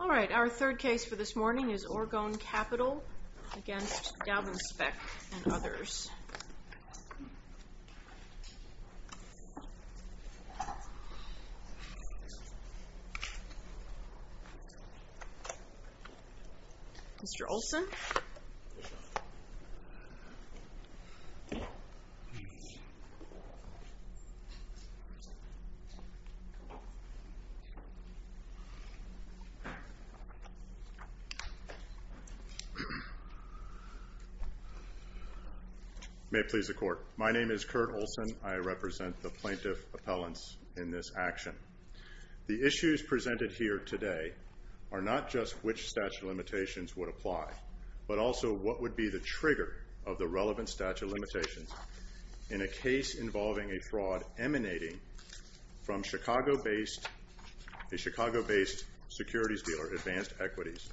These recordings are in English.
All right, our third case for this morning is Orgone Capital against Daubenspeck and Mr. Olson? May it please the Court. My name is Kurt Olson. I represent the plaintiff appellants in this action. The issues presented here today are not just which statute of limitations would apply, but also what would be the trigger of the relevant statute of limitations in a case involving a fraud emanating from a Chicago-based securities dealer, Advanced Equities,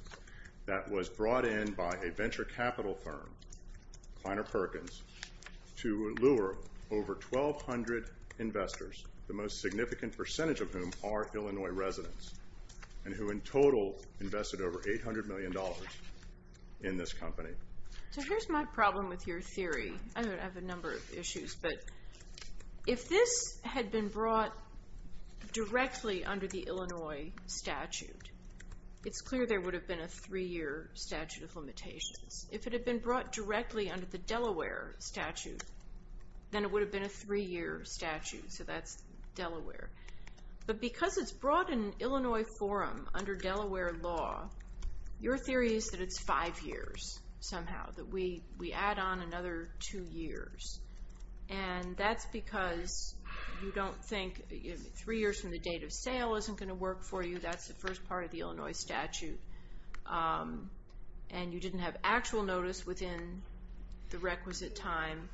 that was brought in by a venture capital firm, Kleiner Perkins, to lure over 1,200 investors, the most significant percentage of which were investors. Most of whom are Illinois residents and who in total invested over $800 million in this company. So here's my problem with your theory. I have a number of issues, but if this had been brought directly under the Illinois statute, it's clear there would have been a three-year statute of limitations. If it had been brought directly under the Delaware statute, then it would have been a three-year statute, so that's Delaware. But because it's brought in Illinois forum under Delaware law, your theory is that it's five years somehow, that we add on another two years. And that's because you don't think three years from the date of sale isn't going to work for you. That's the first part of the Illinois statute. And you didn't have actual notice within the requisite time.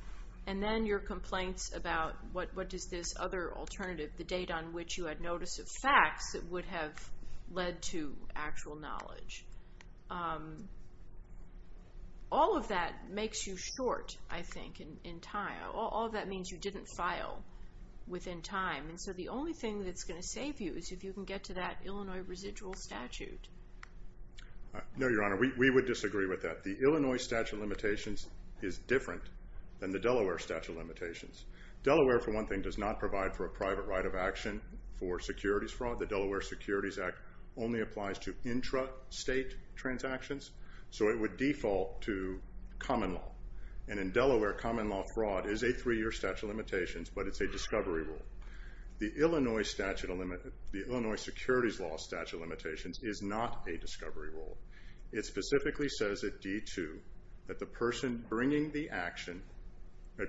And then your complaints about what is this other alternative, the date on which you had notice of facts that would have led to actual knowledge. All of that makes you short, I think, in time. All of that means you didn't file within time. And so the only thing that's going to save you is if you can get to that Illinois residual statute. No, Your Honor, we would disagree with that. The Illinois statute of limitations is different than the Delaware statute of limitations. Delaware, for one thing, does not provide for a private right of action for securities fraud. The Delaware Securities Act only applies to intrastate transactions, so it would default to common law. And in Delaware, common law fraud is a three-year statute of limitations, but it's a discovery rule. The Illinois Securities Law statute of limitations is not a discovery rule. It specifically says at D-2 that the person bringing the action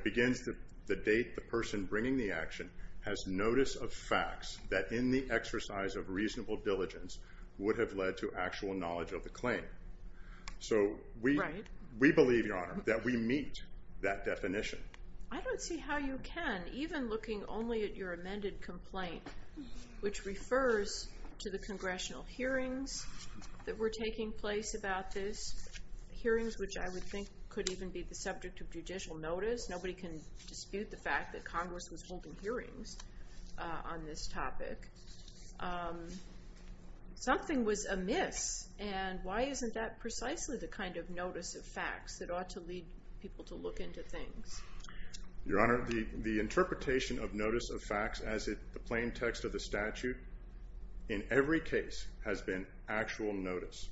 begins the date the person bringing the action has notice of facts that in the exercise of reasonable diligence would have led to actual knowledge of the claim. So we believe, Your Honor, that we meet that definition. I don't see how you can, even looking only at your amended complaint, which refers to the congressional hearings that were taking place about this, hearings which I would think could even be the subject of judicial notice. Nobody can dispute the fact that Congress was holding hearings on this topic. Something was amiss, and why isn't that precisely the kind of notice of facts that ought to lead people to look into things? Your Honor, the interpretation of notice of facts as the plain text of the statute in every case has been actual notice.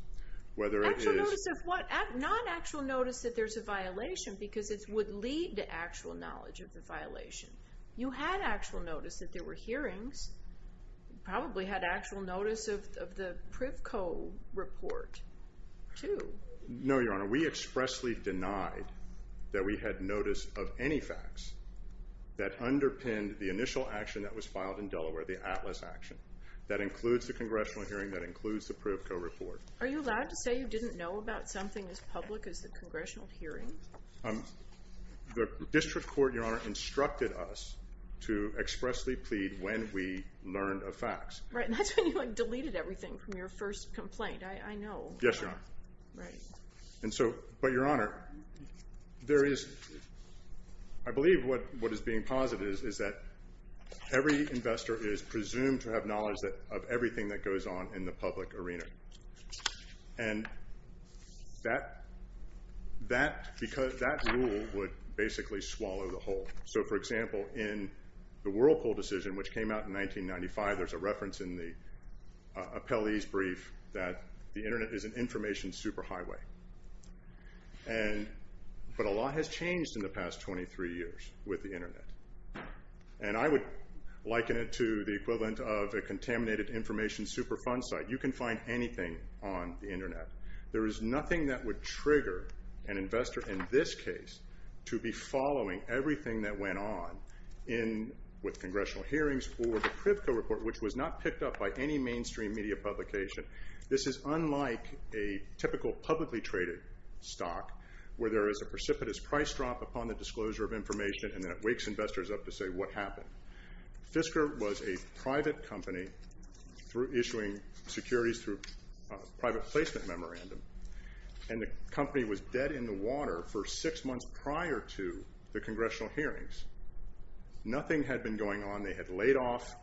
Actual notice of what? Not actual notice that there's a violation, because it would lead to actual knowledge of the violation. You had actual notice that there were hearings. You probably had actual notice of the PrivCo report, too. No, Your Honor. We expressly denied that we had notice of any facts that underpinned the initial action that was filed in Delaware, the ATLAS action. That includes the congressional hearing. That includes the PrivCo report. Are you allowed to say you didn't know about something as public as the congressional hearings? The district court, Your Honor, instructed us to expressly plead when we learned of facts. Right, and that's when you deleted everything from your first complaint. I know. Yes, Your Honor. But, Your Honor, I believe what is being posited is that every investor is presumed to have knowledge of everything that goes on in the public arena. And that, because that rule would basically swallow the whole. So, for example, in the Whirlpool decision, which came out in 1995, there's a reference in the appellee's brief that the Internet is an information superhighway. But a lot has changed in the past 23 years with the Internet. And I would liken it to the equivalent of a contaminated information superfund site. You can find anything on the Internet. There is nothing that would trigger an investor in this case to be following everything that went on with congressional hearings or the PrivCo report, which was not picked up by any mainstream media publication. This is unlike a typical publicly traded stock, where there is a precipitous price drop upon the disclosure of information, and then it wakes investors up to say, what happened? Fisker was a private company issuing securities through a private placement memorandum, and the company was dead in the water for six months prior to the congressional hearings. Nothing had been going on. They had laid off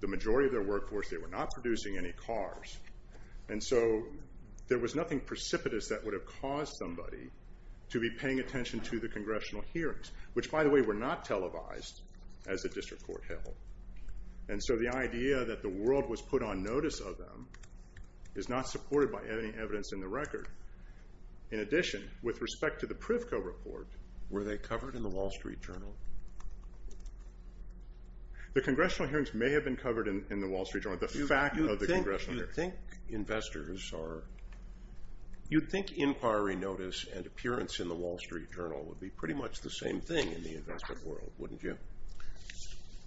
the majority of their workforce. They were not producing any cars. And so there was nothing precipitous that would have caused somebody to be paying attention to the congressional hearings, which, by the way, were not televised as the district court held. And so the idea that the world was put on notice of them is not supported by any evidence in the record. In addition, with respect to the PrivCo report, were they covered in the Wall Street Journal? The congressional hearings may have been covered in the Wall Street Journal. You would think inquiry notice and appearance in the Wall Street Journal would be pretty much the same thing in the investment world, wouldn't you?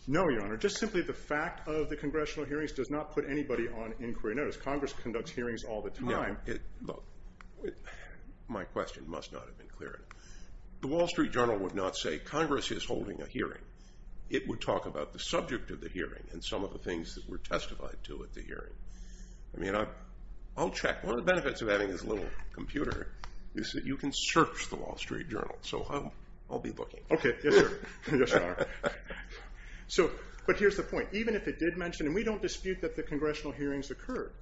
No, Your Honor. Just simply the fact of the congressional hearings does not put anybody on inquiry notice. Congress conducts hearings all the time. Look, my question must not have been clear enough. The Wall Street Journal would not say, Congress is holding a hearing. It would talk about the subject of the hearing and some of the things that were testified to at the hearing. I mean, I'll check. One of the benefits of having this little computer is that you can search the Wall Street Journal. So I'll be looking. Okay. Yes, Your Honor. But here's the point. Even if it did mention, and we don't dispute that the congressional hearings occurred,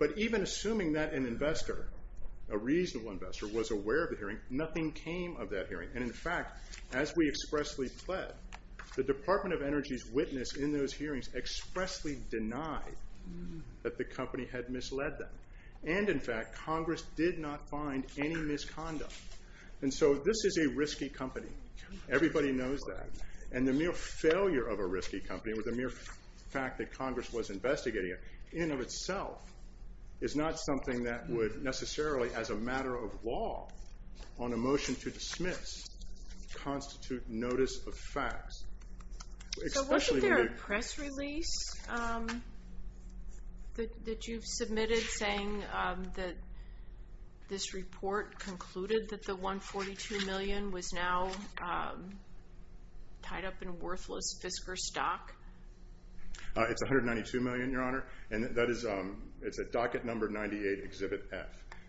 but even assuming that an investor, a reasonable investor, was aware of the hearing, nothing came of that hearing. And in fact, as we expressly pled, the Department of Energy's witness in those hearings expressly denied that the company had misled them. And in fact, Congress did not find any misconduct. And so this is a risky company. Everybody knows that. And the mere failure of a risky company with the mere fact that Congress was investigating it, in and of itself, is not something that would necessarily, as a matter of law, on a motion to dismiss, constitute notice of facts. So wasn't there a press release that you've submitted saying that this report concluded that the $142 million was now tied up in worthless Fisker stock? It's $192 million, Your Honor. And that is a docket number 98, Exhibit F.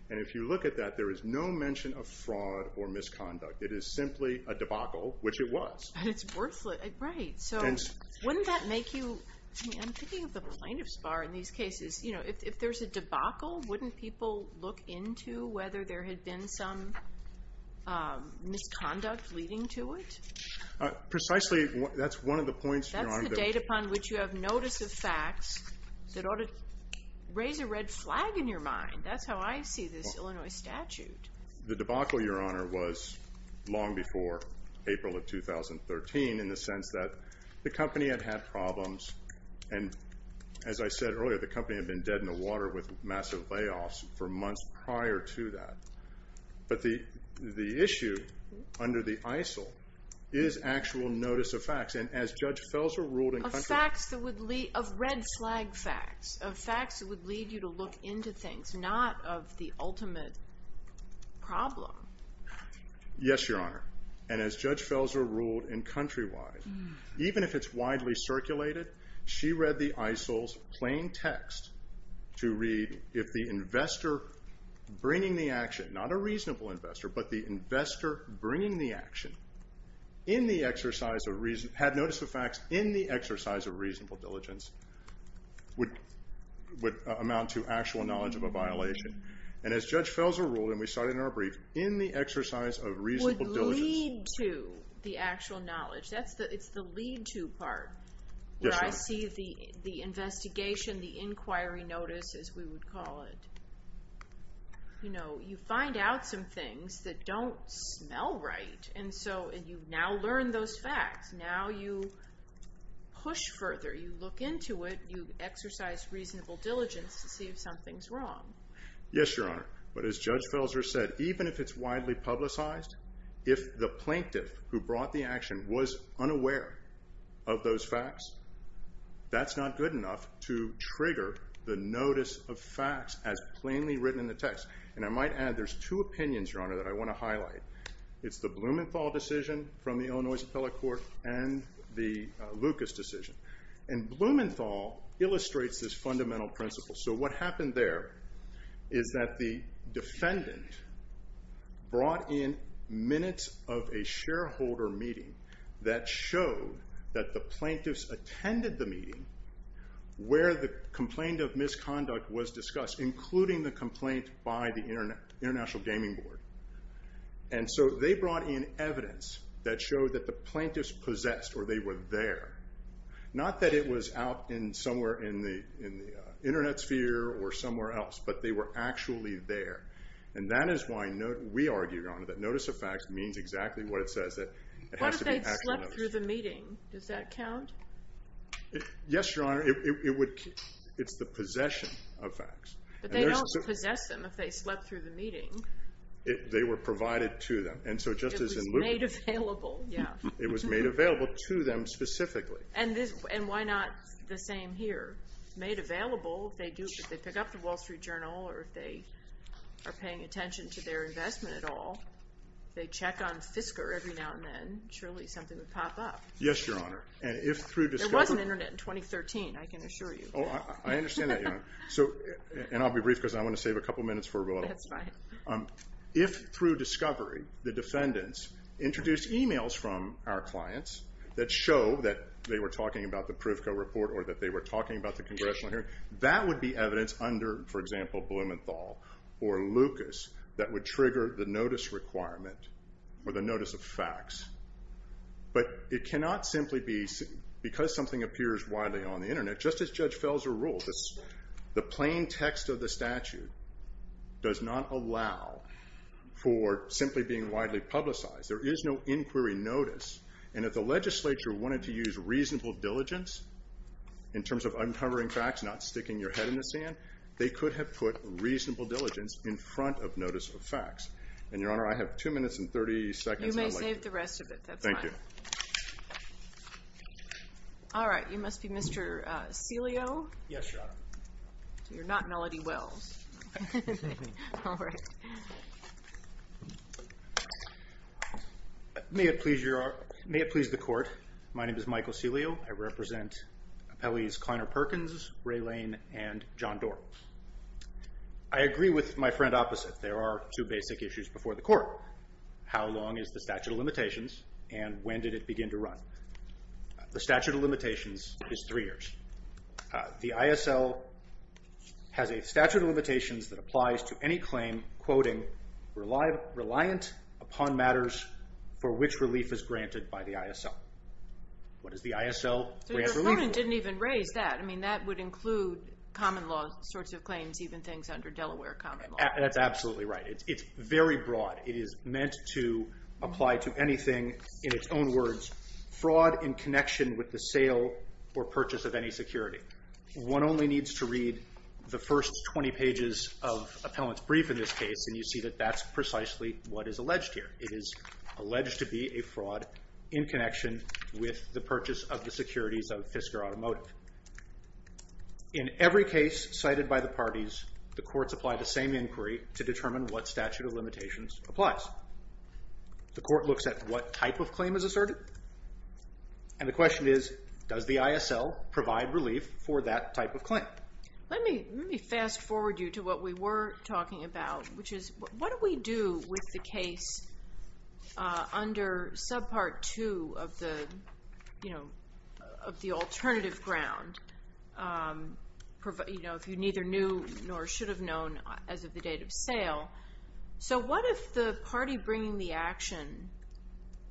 And if you look at that, there is no mention of fraud or misconduct. It is simply a debacle, which it was. And it's worthless. Right. So wouldn't that make you – I mean, I'm thinking of the plaintiff's bar in these cases. You know, if there's a debacle, wouldn't people look into whether there had been some misconduct leading to it? Precisely, that's one of the points, Your Honor. That's the date upon which you have notice of facts that ought to raise a red flag in your mind. That's how I see this Illinois statute. The debacle, Your Honor, was long before April of 2013 in the sense that the company had had problems. And as I said earlier, the company had been dead in the water with massive layoffs for months prior to that. But the issue under the ISIL is actual notice of facts. And as Judge Felser ruled in country – Of red flag facts, of facts that would lead you to look into things, not of the ultimate problem. Yes, Your Honor. And as Judge Felser ruled in country-wide, even if it's widely circulated, she read the ISIL's plain text to read if the investor bringing the action – not a reasonable investor, but the investor bringing the action in the exercise of – had notice of facts in the exercise of reasonable diligence would amount to actual knowledge of a violation. And as Judge Felser ruled, and we saw it in our brief, in the exercise of reasonable diligence – Would lead to the actual knowledge. It's the lead to part where I see the investigation, the inquiry notice, as we would call it. You know, you find out some things that don't smell right. And so you now learn those facts. Now you push further. You look into it. You exercise reasonable diligence to see if something's wrong. Yes, Your Honor. But as Judge Felser said, even if it's widely publicized, if the plaintiff who brought the action was unaware of those facts, that's not good enough to trigger the notice of facts as plainly written in the text. And I might add there's two opinions, Your Honor, that I want to highlight. It's the Blumenthal decision from the Illinois Appellate Court and the Lucas decision. And Blumenthal illustrates this fundamental principle. So what happened there is that the defendant brought in minutes of a shareholder meeting that showed that the plaintiffs attended the meeting where the complaint of misconduct was discussed, including the complaint by the International Gaming Board. And so they brought in evidence that showed that the plaintiffs possessed or they were there. Not that it was out somewhere in the Internet sphere or somewhere else, but they were actually there. And that is why we argue, Your Honor, that notice of facts means exactly what it says. What if they slept through the meeting? Does that count? Yes, Your Honor. It's the possession of facts. But they don't possess them if they slept through the meeting. They were provided to them. It was made available. It was made available to them specifically. And why not the same here? Made available, if they pick up the Wall Street Journal or if they are paying attention to their investment at all, if they check on Fisker every now and then, surely something would pop up. Yes, Your Honor. There was an Internet in 2013, I can assure you. I understand that, Your Honor. And I'll be brief because I want to save a couple minutes for a little. That's fine. If, through discovery, the defendants introduced emails from our clients that show that they were talking about the Privco report or that they were talking about the congressional hearing, that would be evidence under, for example, Blumenthal or Lucas that would trigger the notice requirement or the notice of facts. But it cannot simply be because something appears widely on the Internet. Just as Judge Felser ruled, the plain text of the statute does not allow for simply being widely publicized. There is no inquiry notice. And if the legislature wanted to use reasonable diligence in terms of uncovering facts, not sticking your head in the sand, they could have put reasonable diligence in front of notice of facts. And, Your Honor, I have 2 minutes and 30 seconds. You may save the rest of it. That's fine. Thank you. All right. You must be Mr. Celio? Yes, Your Honor. You're not Melody Wells. All right. May it please the Court, my name is Michael Celio. I represent appellees Kleiner Perkins, Ray Lane, and John Doar. I agree with my friend opposite. There are 2 basic issues before the Court. How long is the statute of limitations and when did it begin to run? The statute of limitations is 3 years. The ISL has a statute of limitations that applies to any claim quoting reliant upon matters for which relief is granted by the ISL. What is the ISL grant relief? So your opponent didn't even raise that. I mean, that would include common law sorts of claims, even things under Delaware common law. That's absolutely right. It's very broad. It is meant to apply to anything, in its own words, fraud in connection with the sale or purchase of any security. One only needs to read the first 20 pages of appellant's brief in this case, and you see that that's precisely what is alleged here. It is alleged to be a fraud in connection with the purchase of the securities of Fisker Automotive. In every case cited by the parties, the courts apply the same inquiry to determine what statute of limitations applies. The court looks at what type of claim is asserted, and the question is, does the ISL provide relief for that type of claim? Let me fast forward you to what we were talking about, which is what do we do with the case under subpart 2 of the alternative ground, if you neither knew nor should have known as of the date of sale. What if the party bringing the action,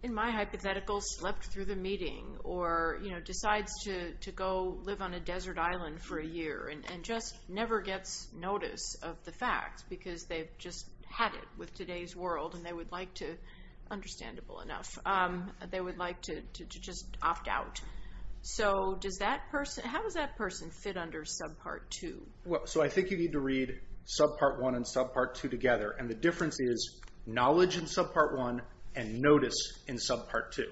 in my hypothetical, slept through the meeting, or decides to go live on a desert island for a year and just never gets notice of the facts because they've just had it with today's world and they would like to, understandable enough, they would like to just opt out. How does that person fit under subpart 2? I think you need to read subpart 1 and subpart 2 together, and the difference is knowledge in subpart 1 and notice in subpart 2.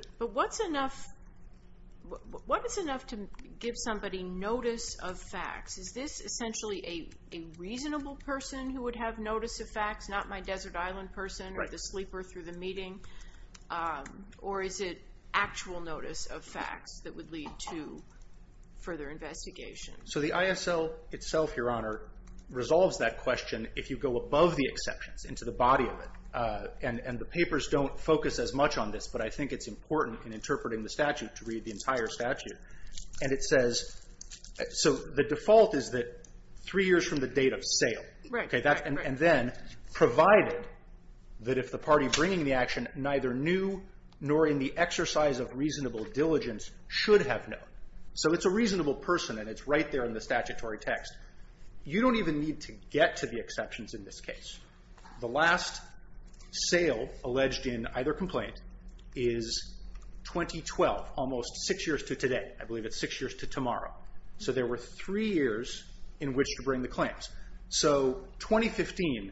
What is enough to give somebody notice of facts? Is this essentially a reasonable person who would have notice of facts, not my desert island person or the sleeper through the meeting, or is it actual notice of facts that would lead to further investigation? So the ISL itself, Your Honor, resolves that question if you go above the exceptions into the body of it, and the papers don't focus as much on this, but I think it's important in interpreting the statute to read the entire statute. And it says, so the default is that three years from the date of sale, and then provided that if the party bringing the action neither knew nor in the exercise of reasonable diligence should have known. So it's a reasonable person, and it's right there in the statutory text. You don't even need to get to the exceptions in this case. The last sale alleged in either complaint is 2012, almost six years to today. I believe it's six years to tomorrow. So there were three years in which to bring the claims. So 2015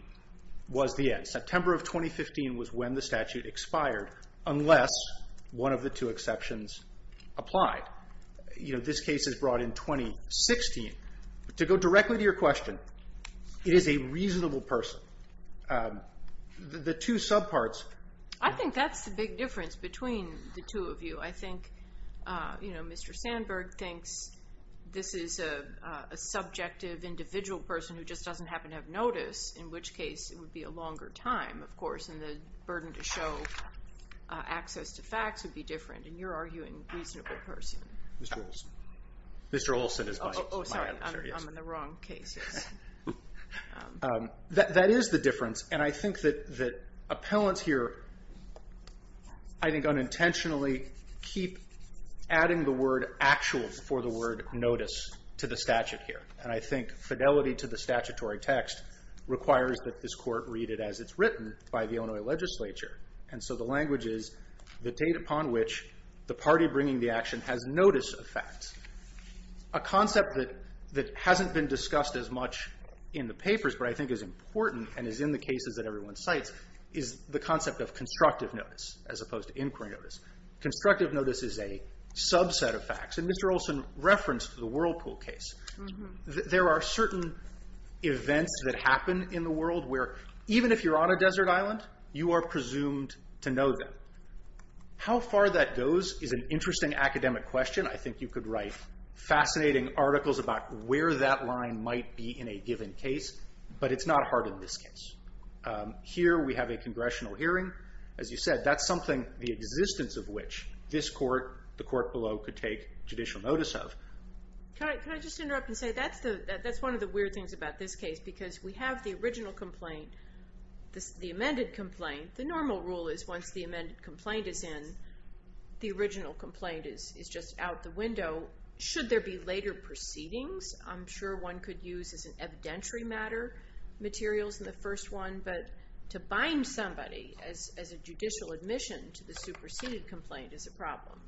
was the end. You know, this case is brought in 2016. To go directly to your question, it is a reasonable person. The two subparts. I think that's the big difference between the two of you. I think, you know, Mr. Sandberg thinks this is a subjective individual person who just doesn't happen to have notice, in which case it would be a longer time, of course, and the burden to show access to facts would be different, and you're arguing reasonable person. Mr. Olson. Mr. Olson is my adversary. Oh, sorry. I'm in the wrong cases. That is the difference, and I think that appellants here, I think, unintentionally keep adding the word actual for the word notice to the statute here. And I think fidelity to the statutory text requires that this court read it as it's written by the Illinois legislature. And so the language is the date upon which the party bringing the action has notice of facts. A concept that hasn't been discussed as much in the papers but I think is important and is in the cases that everyone cites is the concept of constructive notice as opposed to inquiry notice. Constructive notice is a subset of facts, and Mr. Olson referenced the Whirlpool case. There are certain events that happen in the world where even if you're on a desert island, you are presumed to know them. How far that goes is an interesting academic question. I think you could write fascinating articles about where that line might be in a given case, but it's not hard in this case. Here we have a congressional hearing. As you said, that's something the existence of which this court, the court below, could take judicial notice of. Can I just interrupt and say that's one of the weird things about this case because we have the original complaint, the amended complaint. The normal rule is once the amended complaint is in, the original complaint is just out the window. Should there be later proceedings? I'm sure one could use as an evidentiary matter materials in the first one, but to bind somebody as a judicial admission to the superseded complaint is a problem.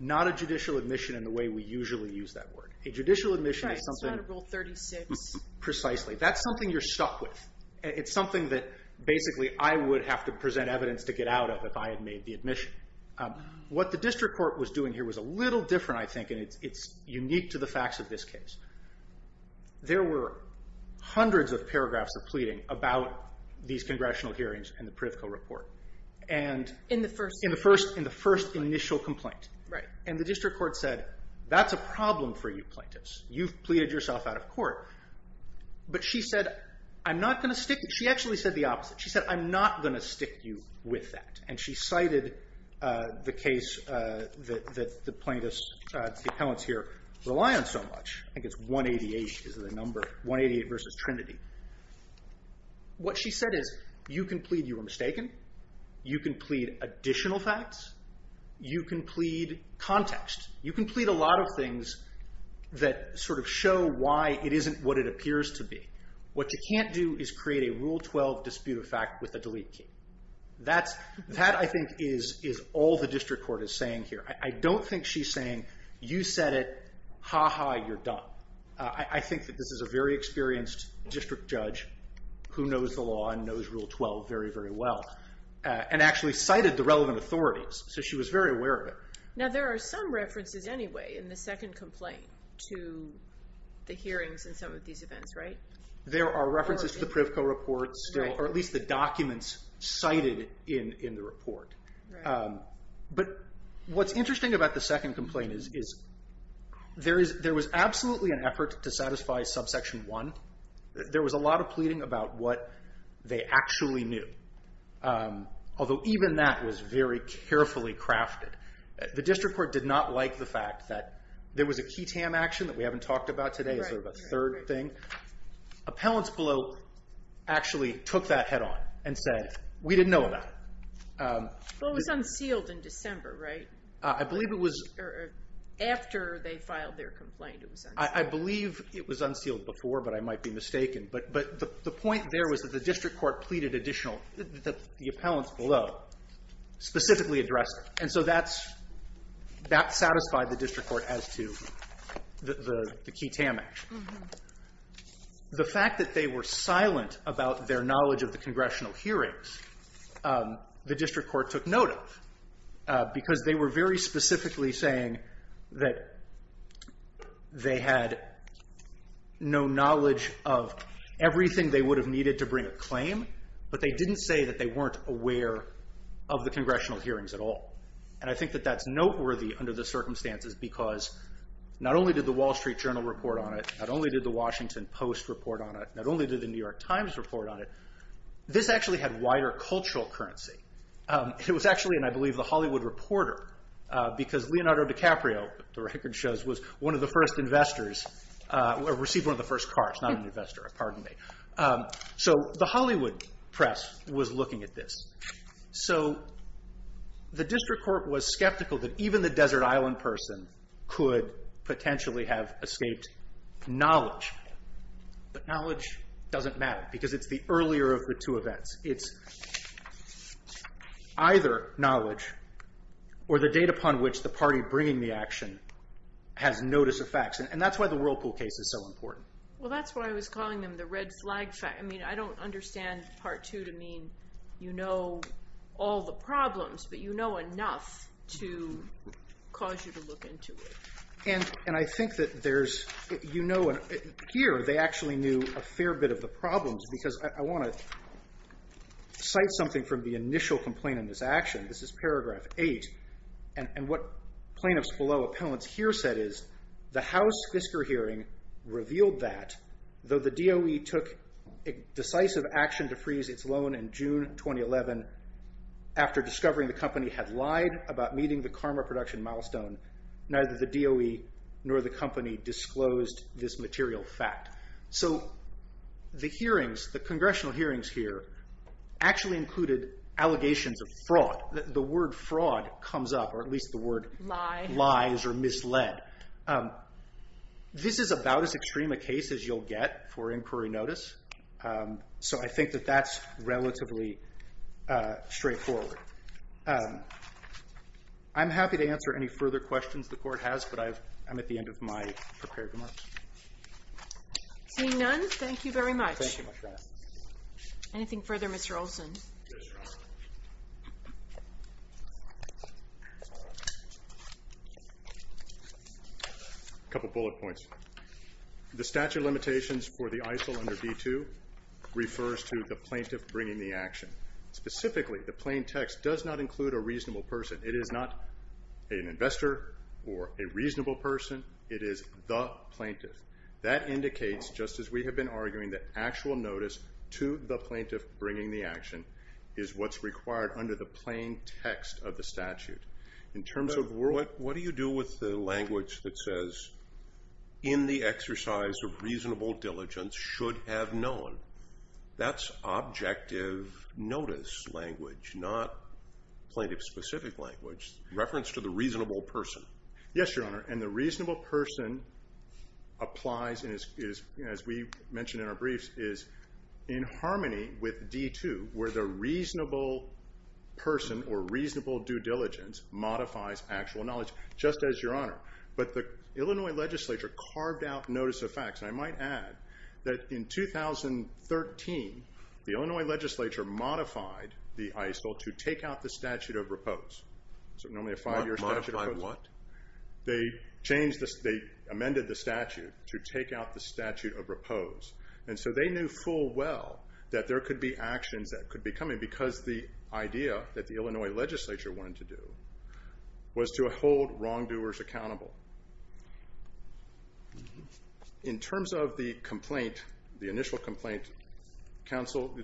Not a judicial admission in the way we usually use that word. A judicial admission is something- Right. It's not a Rule 36. Precisely. That's something you're stuck with. It's something that basically I would have to present evidence to get out of if I had made the admission. What the district court was doing here was a little different, I think, and it's unique to the facts of this case. There were hundreds of paragraphs of pleading about these congressional hearings in the Pritikin report. In the first- In the first initial complaint. Right. And the district court said, that's a problem for you plaintiffs. You've pleaded yourself out of court. But she said, I'm not going to stick- She actually said the opposite. She said, I'm not going to stick you with that. And she cited the case that the plaintiffs, the appellants here, rely on so much. I think it's 188 is the number. 188 versus Trinity. What she said is, you can plead you were mistaken. You can plead additional facts. You can plead context. You can plead a lot of things that sort of show why it isn't what it appears to be. What you can't do is create a Rule 12 dispute of fact with a delete key. That, I think, is all the district court is saying here. I don't think she's saying, you said it, ha ha, you're done. I think that this is a very experienced district judge who knows the law and knows Rule 12 very, very well. And actually cited the relevant authorities. So she was very aware of it. Now, there are some references anyway in the second complaint to the hearings and some of these events, right? There are references to the Privco report still, or at least the documents cited in the report. But what's interesting about the second complaint is there was absolutely an effort to satisfy subsection 1. There was a lot of pleading about what they actually knew. Although even that was very carefully crafted. The district court did not like the fact that there was a key TAM action that we haven't talked about today. Is there a third thing? Appellants below actually took that head on and said, we didn't know about it. Well, it was unsealed in December, right? I believe it was. After they filed their complaint, it was unsealed. I believe it was unsealed before, but I might be mistaken. But the point there was that the district court pleaded additional, that the appellants below specifically addressed it. And so that satisfied the district court as to the key TAM action. The fact that they were silent about their knowledge of the congressional hearings, the district court took note of. Because they were very specifically saying that they had no knowledge of everything they would have needed to bring a claim. But they didn't say that they weren't aware of the congressional hearings at all. And I think that that's noteworthy under the circumstances because not only did the Wall Street Journal report on it, not only did the Washington Post report on it, not only did the New York Times report on it, this actually had wider cultural currency. It was actually, and I believe the Hollywood Reporter, because Leonardo DiCaprio, the record shows, was one of the first investors, received one of the first cards, not an investor, pardon me. So the Hollywood Press was looking at this. So the district court was skeptical that even the Desert Island person could potentially have escaped knowledge. But knowledge doesn't matter because it's the earlier of the two events. It's either knowledge or the date upon which the party bringing the action has notice of facts. And that's why the Whirlpool case is so important. Well, that's why I was calling them the red flag fact. I mean, I don't understand part two to mean you know all the problems, but you know enough to cause you to look into it. And I think that there's, you know, and here they actually knew a fair bit of the problems because I want to cite something from the initial complaint in this action. This is paragraph eight. And what plaintiffs below appellants here said is the House Fisker hearing revealed that though the DOE took decisive action to freeze its loan in June 2011 after discovering the company had lied about meeting the karma production milestone, neither the DOE nor the company disclosed this material fact. So the hearings, the congressional hearings here, actually included allegations of fraud. The word fraud comes up, or at least the word lies or misled. This is about as extreme a case as you'll get for inquiry notice. So I think that that's relatively straightforward. I'm happy to answer any further questions the court has, but I'm at the end of my prepared remarks. Seeing none, thank you very much. Thank you, Ms. Rasmussen. Anything further, Mr. Olson? Yes, Your Honor. A couple bullet points. The statute of limitations for the ISIL under D2 refers to the plaintiff bringing the action. Specifically, the plain text does not include a reasonable person. It is not an investor or a reasonable person. It is the plaintiff. That indicates, just as we have been arguing, that actual notice to the plaintiff bringing the action is what's required under the plain text of the statute. In terms of what do you do with the language that says, in the exercise of reasonable diligence should have known. That's objective notice language, not plaintiff-specific language. Reference to the reasonable person. Yes, Your Honor. And the reasonable person applies, as we mentioned in our briefs, is in harmony with D2 where the reasonable person or reasonable due diligence modifies actual knowledge, just as Your Honor. But the Illinois legislature carved out notice of facts. And I might add that in 2013, the Illinois legislature modified the ISIL to take out the statute of repose. So normally a five-year statute of repose. Modify what? They amended the statute to take out the statute of repose. And so they knew full well that there could be actions that could be coming because the idea that the Illinois legislature wanted to do was to hold wrongdoers accountable. In terms of the complaint, the initial complaint, counsel,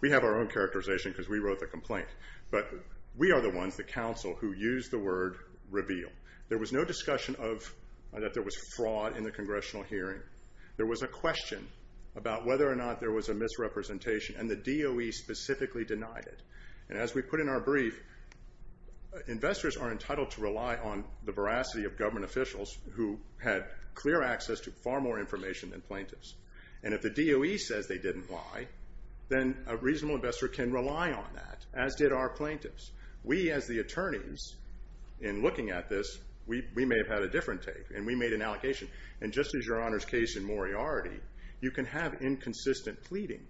we have our own characterization because we wrote the complaint, but we are the ones, the counsel, who used the word reveal. There was no discussion that there was fraud in the congressional hearing. There was a question about whether or not there was a misrepresentation, and the DOE specifically denied it. And as we put in our brief, investors are entitled to rely on the veracity of government officials who had clear access to far more information than plaintiffs. And if the DOE says they didn't lie, then a reasonable investor can rely on that, as did our plaintiffs. We, as the attorneys, in looking at this, we may have had a different take, and we made an allocation. And just as Your Honor's case in Moriarty, you can have inconsistent pleading.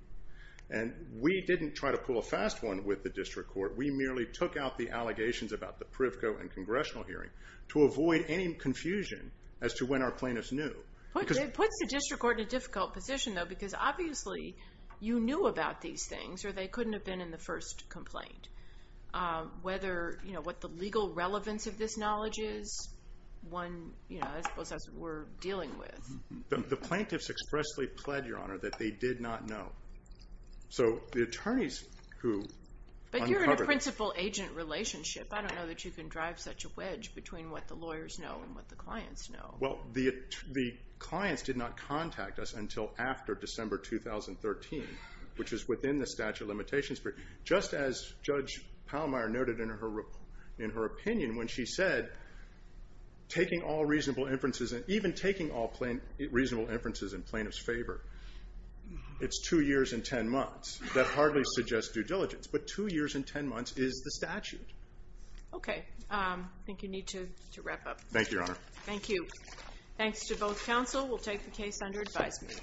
And we didn't try to pull a fast one with the district court. We merely took out the allegations about the Privco and congressional hearing to avoid any confusion as to when our plaintiffs knew. It puts the district court in a difficult position, though, because obviously you knew about these things, or they couldn't have been in the first complaint. Whether, you know, what the legal relevance of this knowledge is, one, you know, I suppose that's what we're dealing with. The plaintiffs expressly pled, Your Honor, that they did not know. So the attorneys who uncovered it. But you're in a principal-agent relationship. I don't know that you can drive such a wedge between what the lawyers know and what the clients know. Well, the clients did not contact us until after December 2013, which is within the statute of limitations. Just as Judge Pallmeyer noted in her opinion when she said, taking all reasonable inferences and even taking all reasonable inferences in plaintiffs' favor, it's two years and ten months. That hardly suggests due diligence. But two years and ten months is the statute. Okay. I think you need to wrap up. Thank you, Your Honor. Thank you. Thanks to both counsel. We'll take the case under advisement.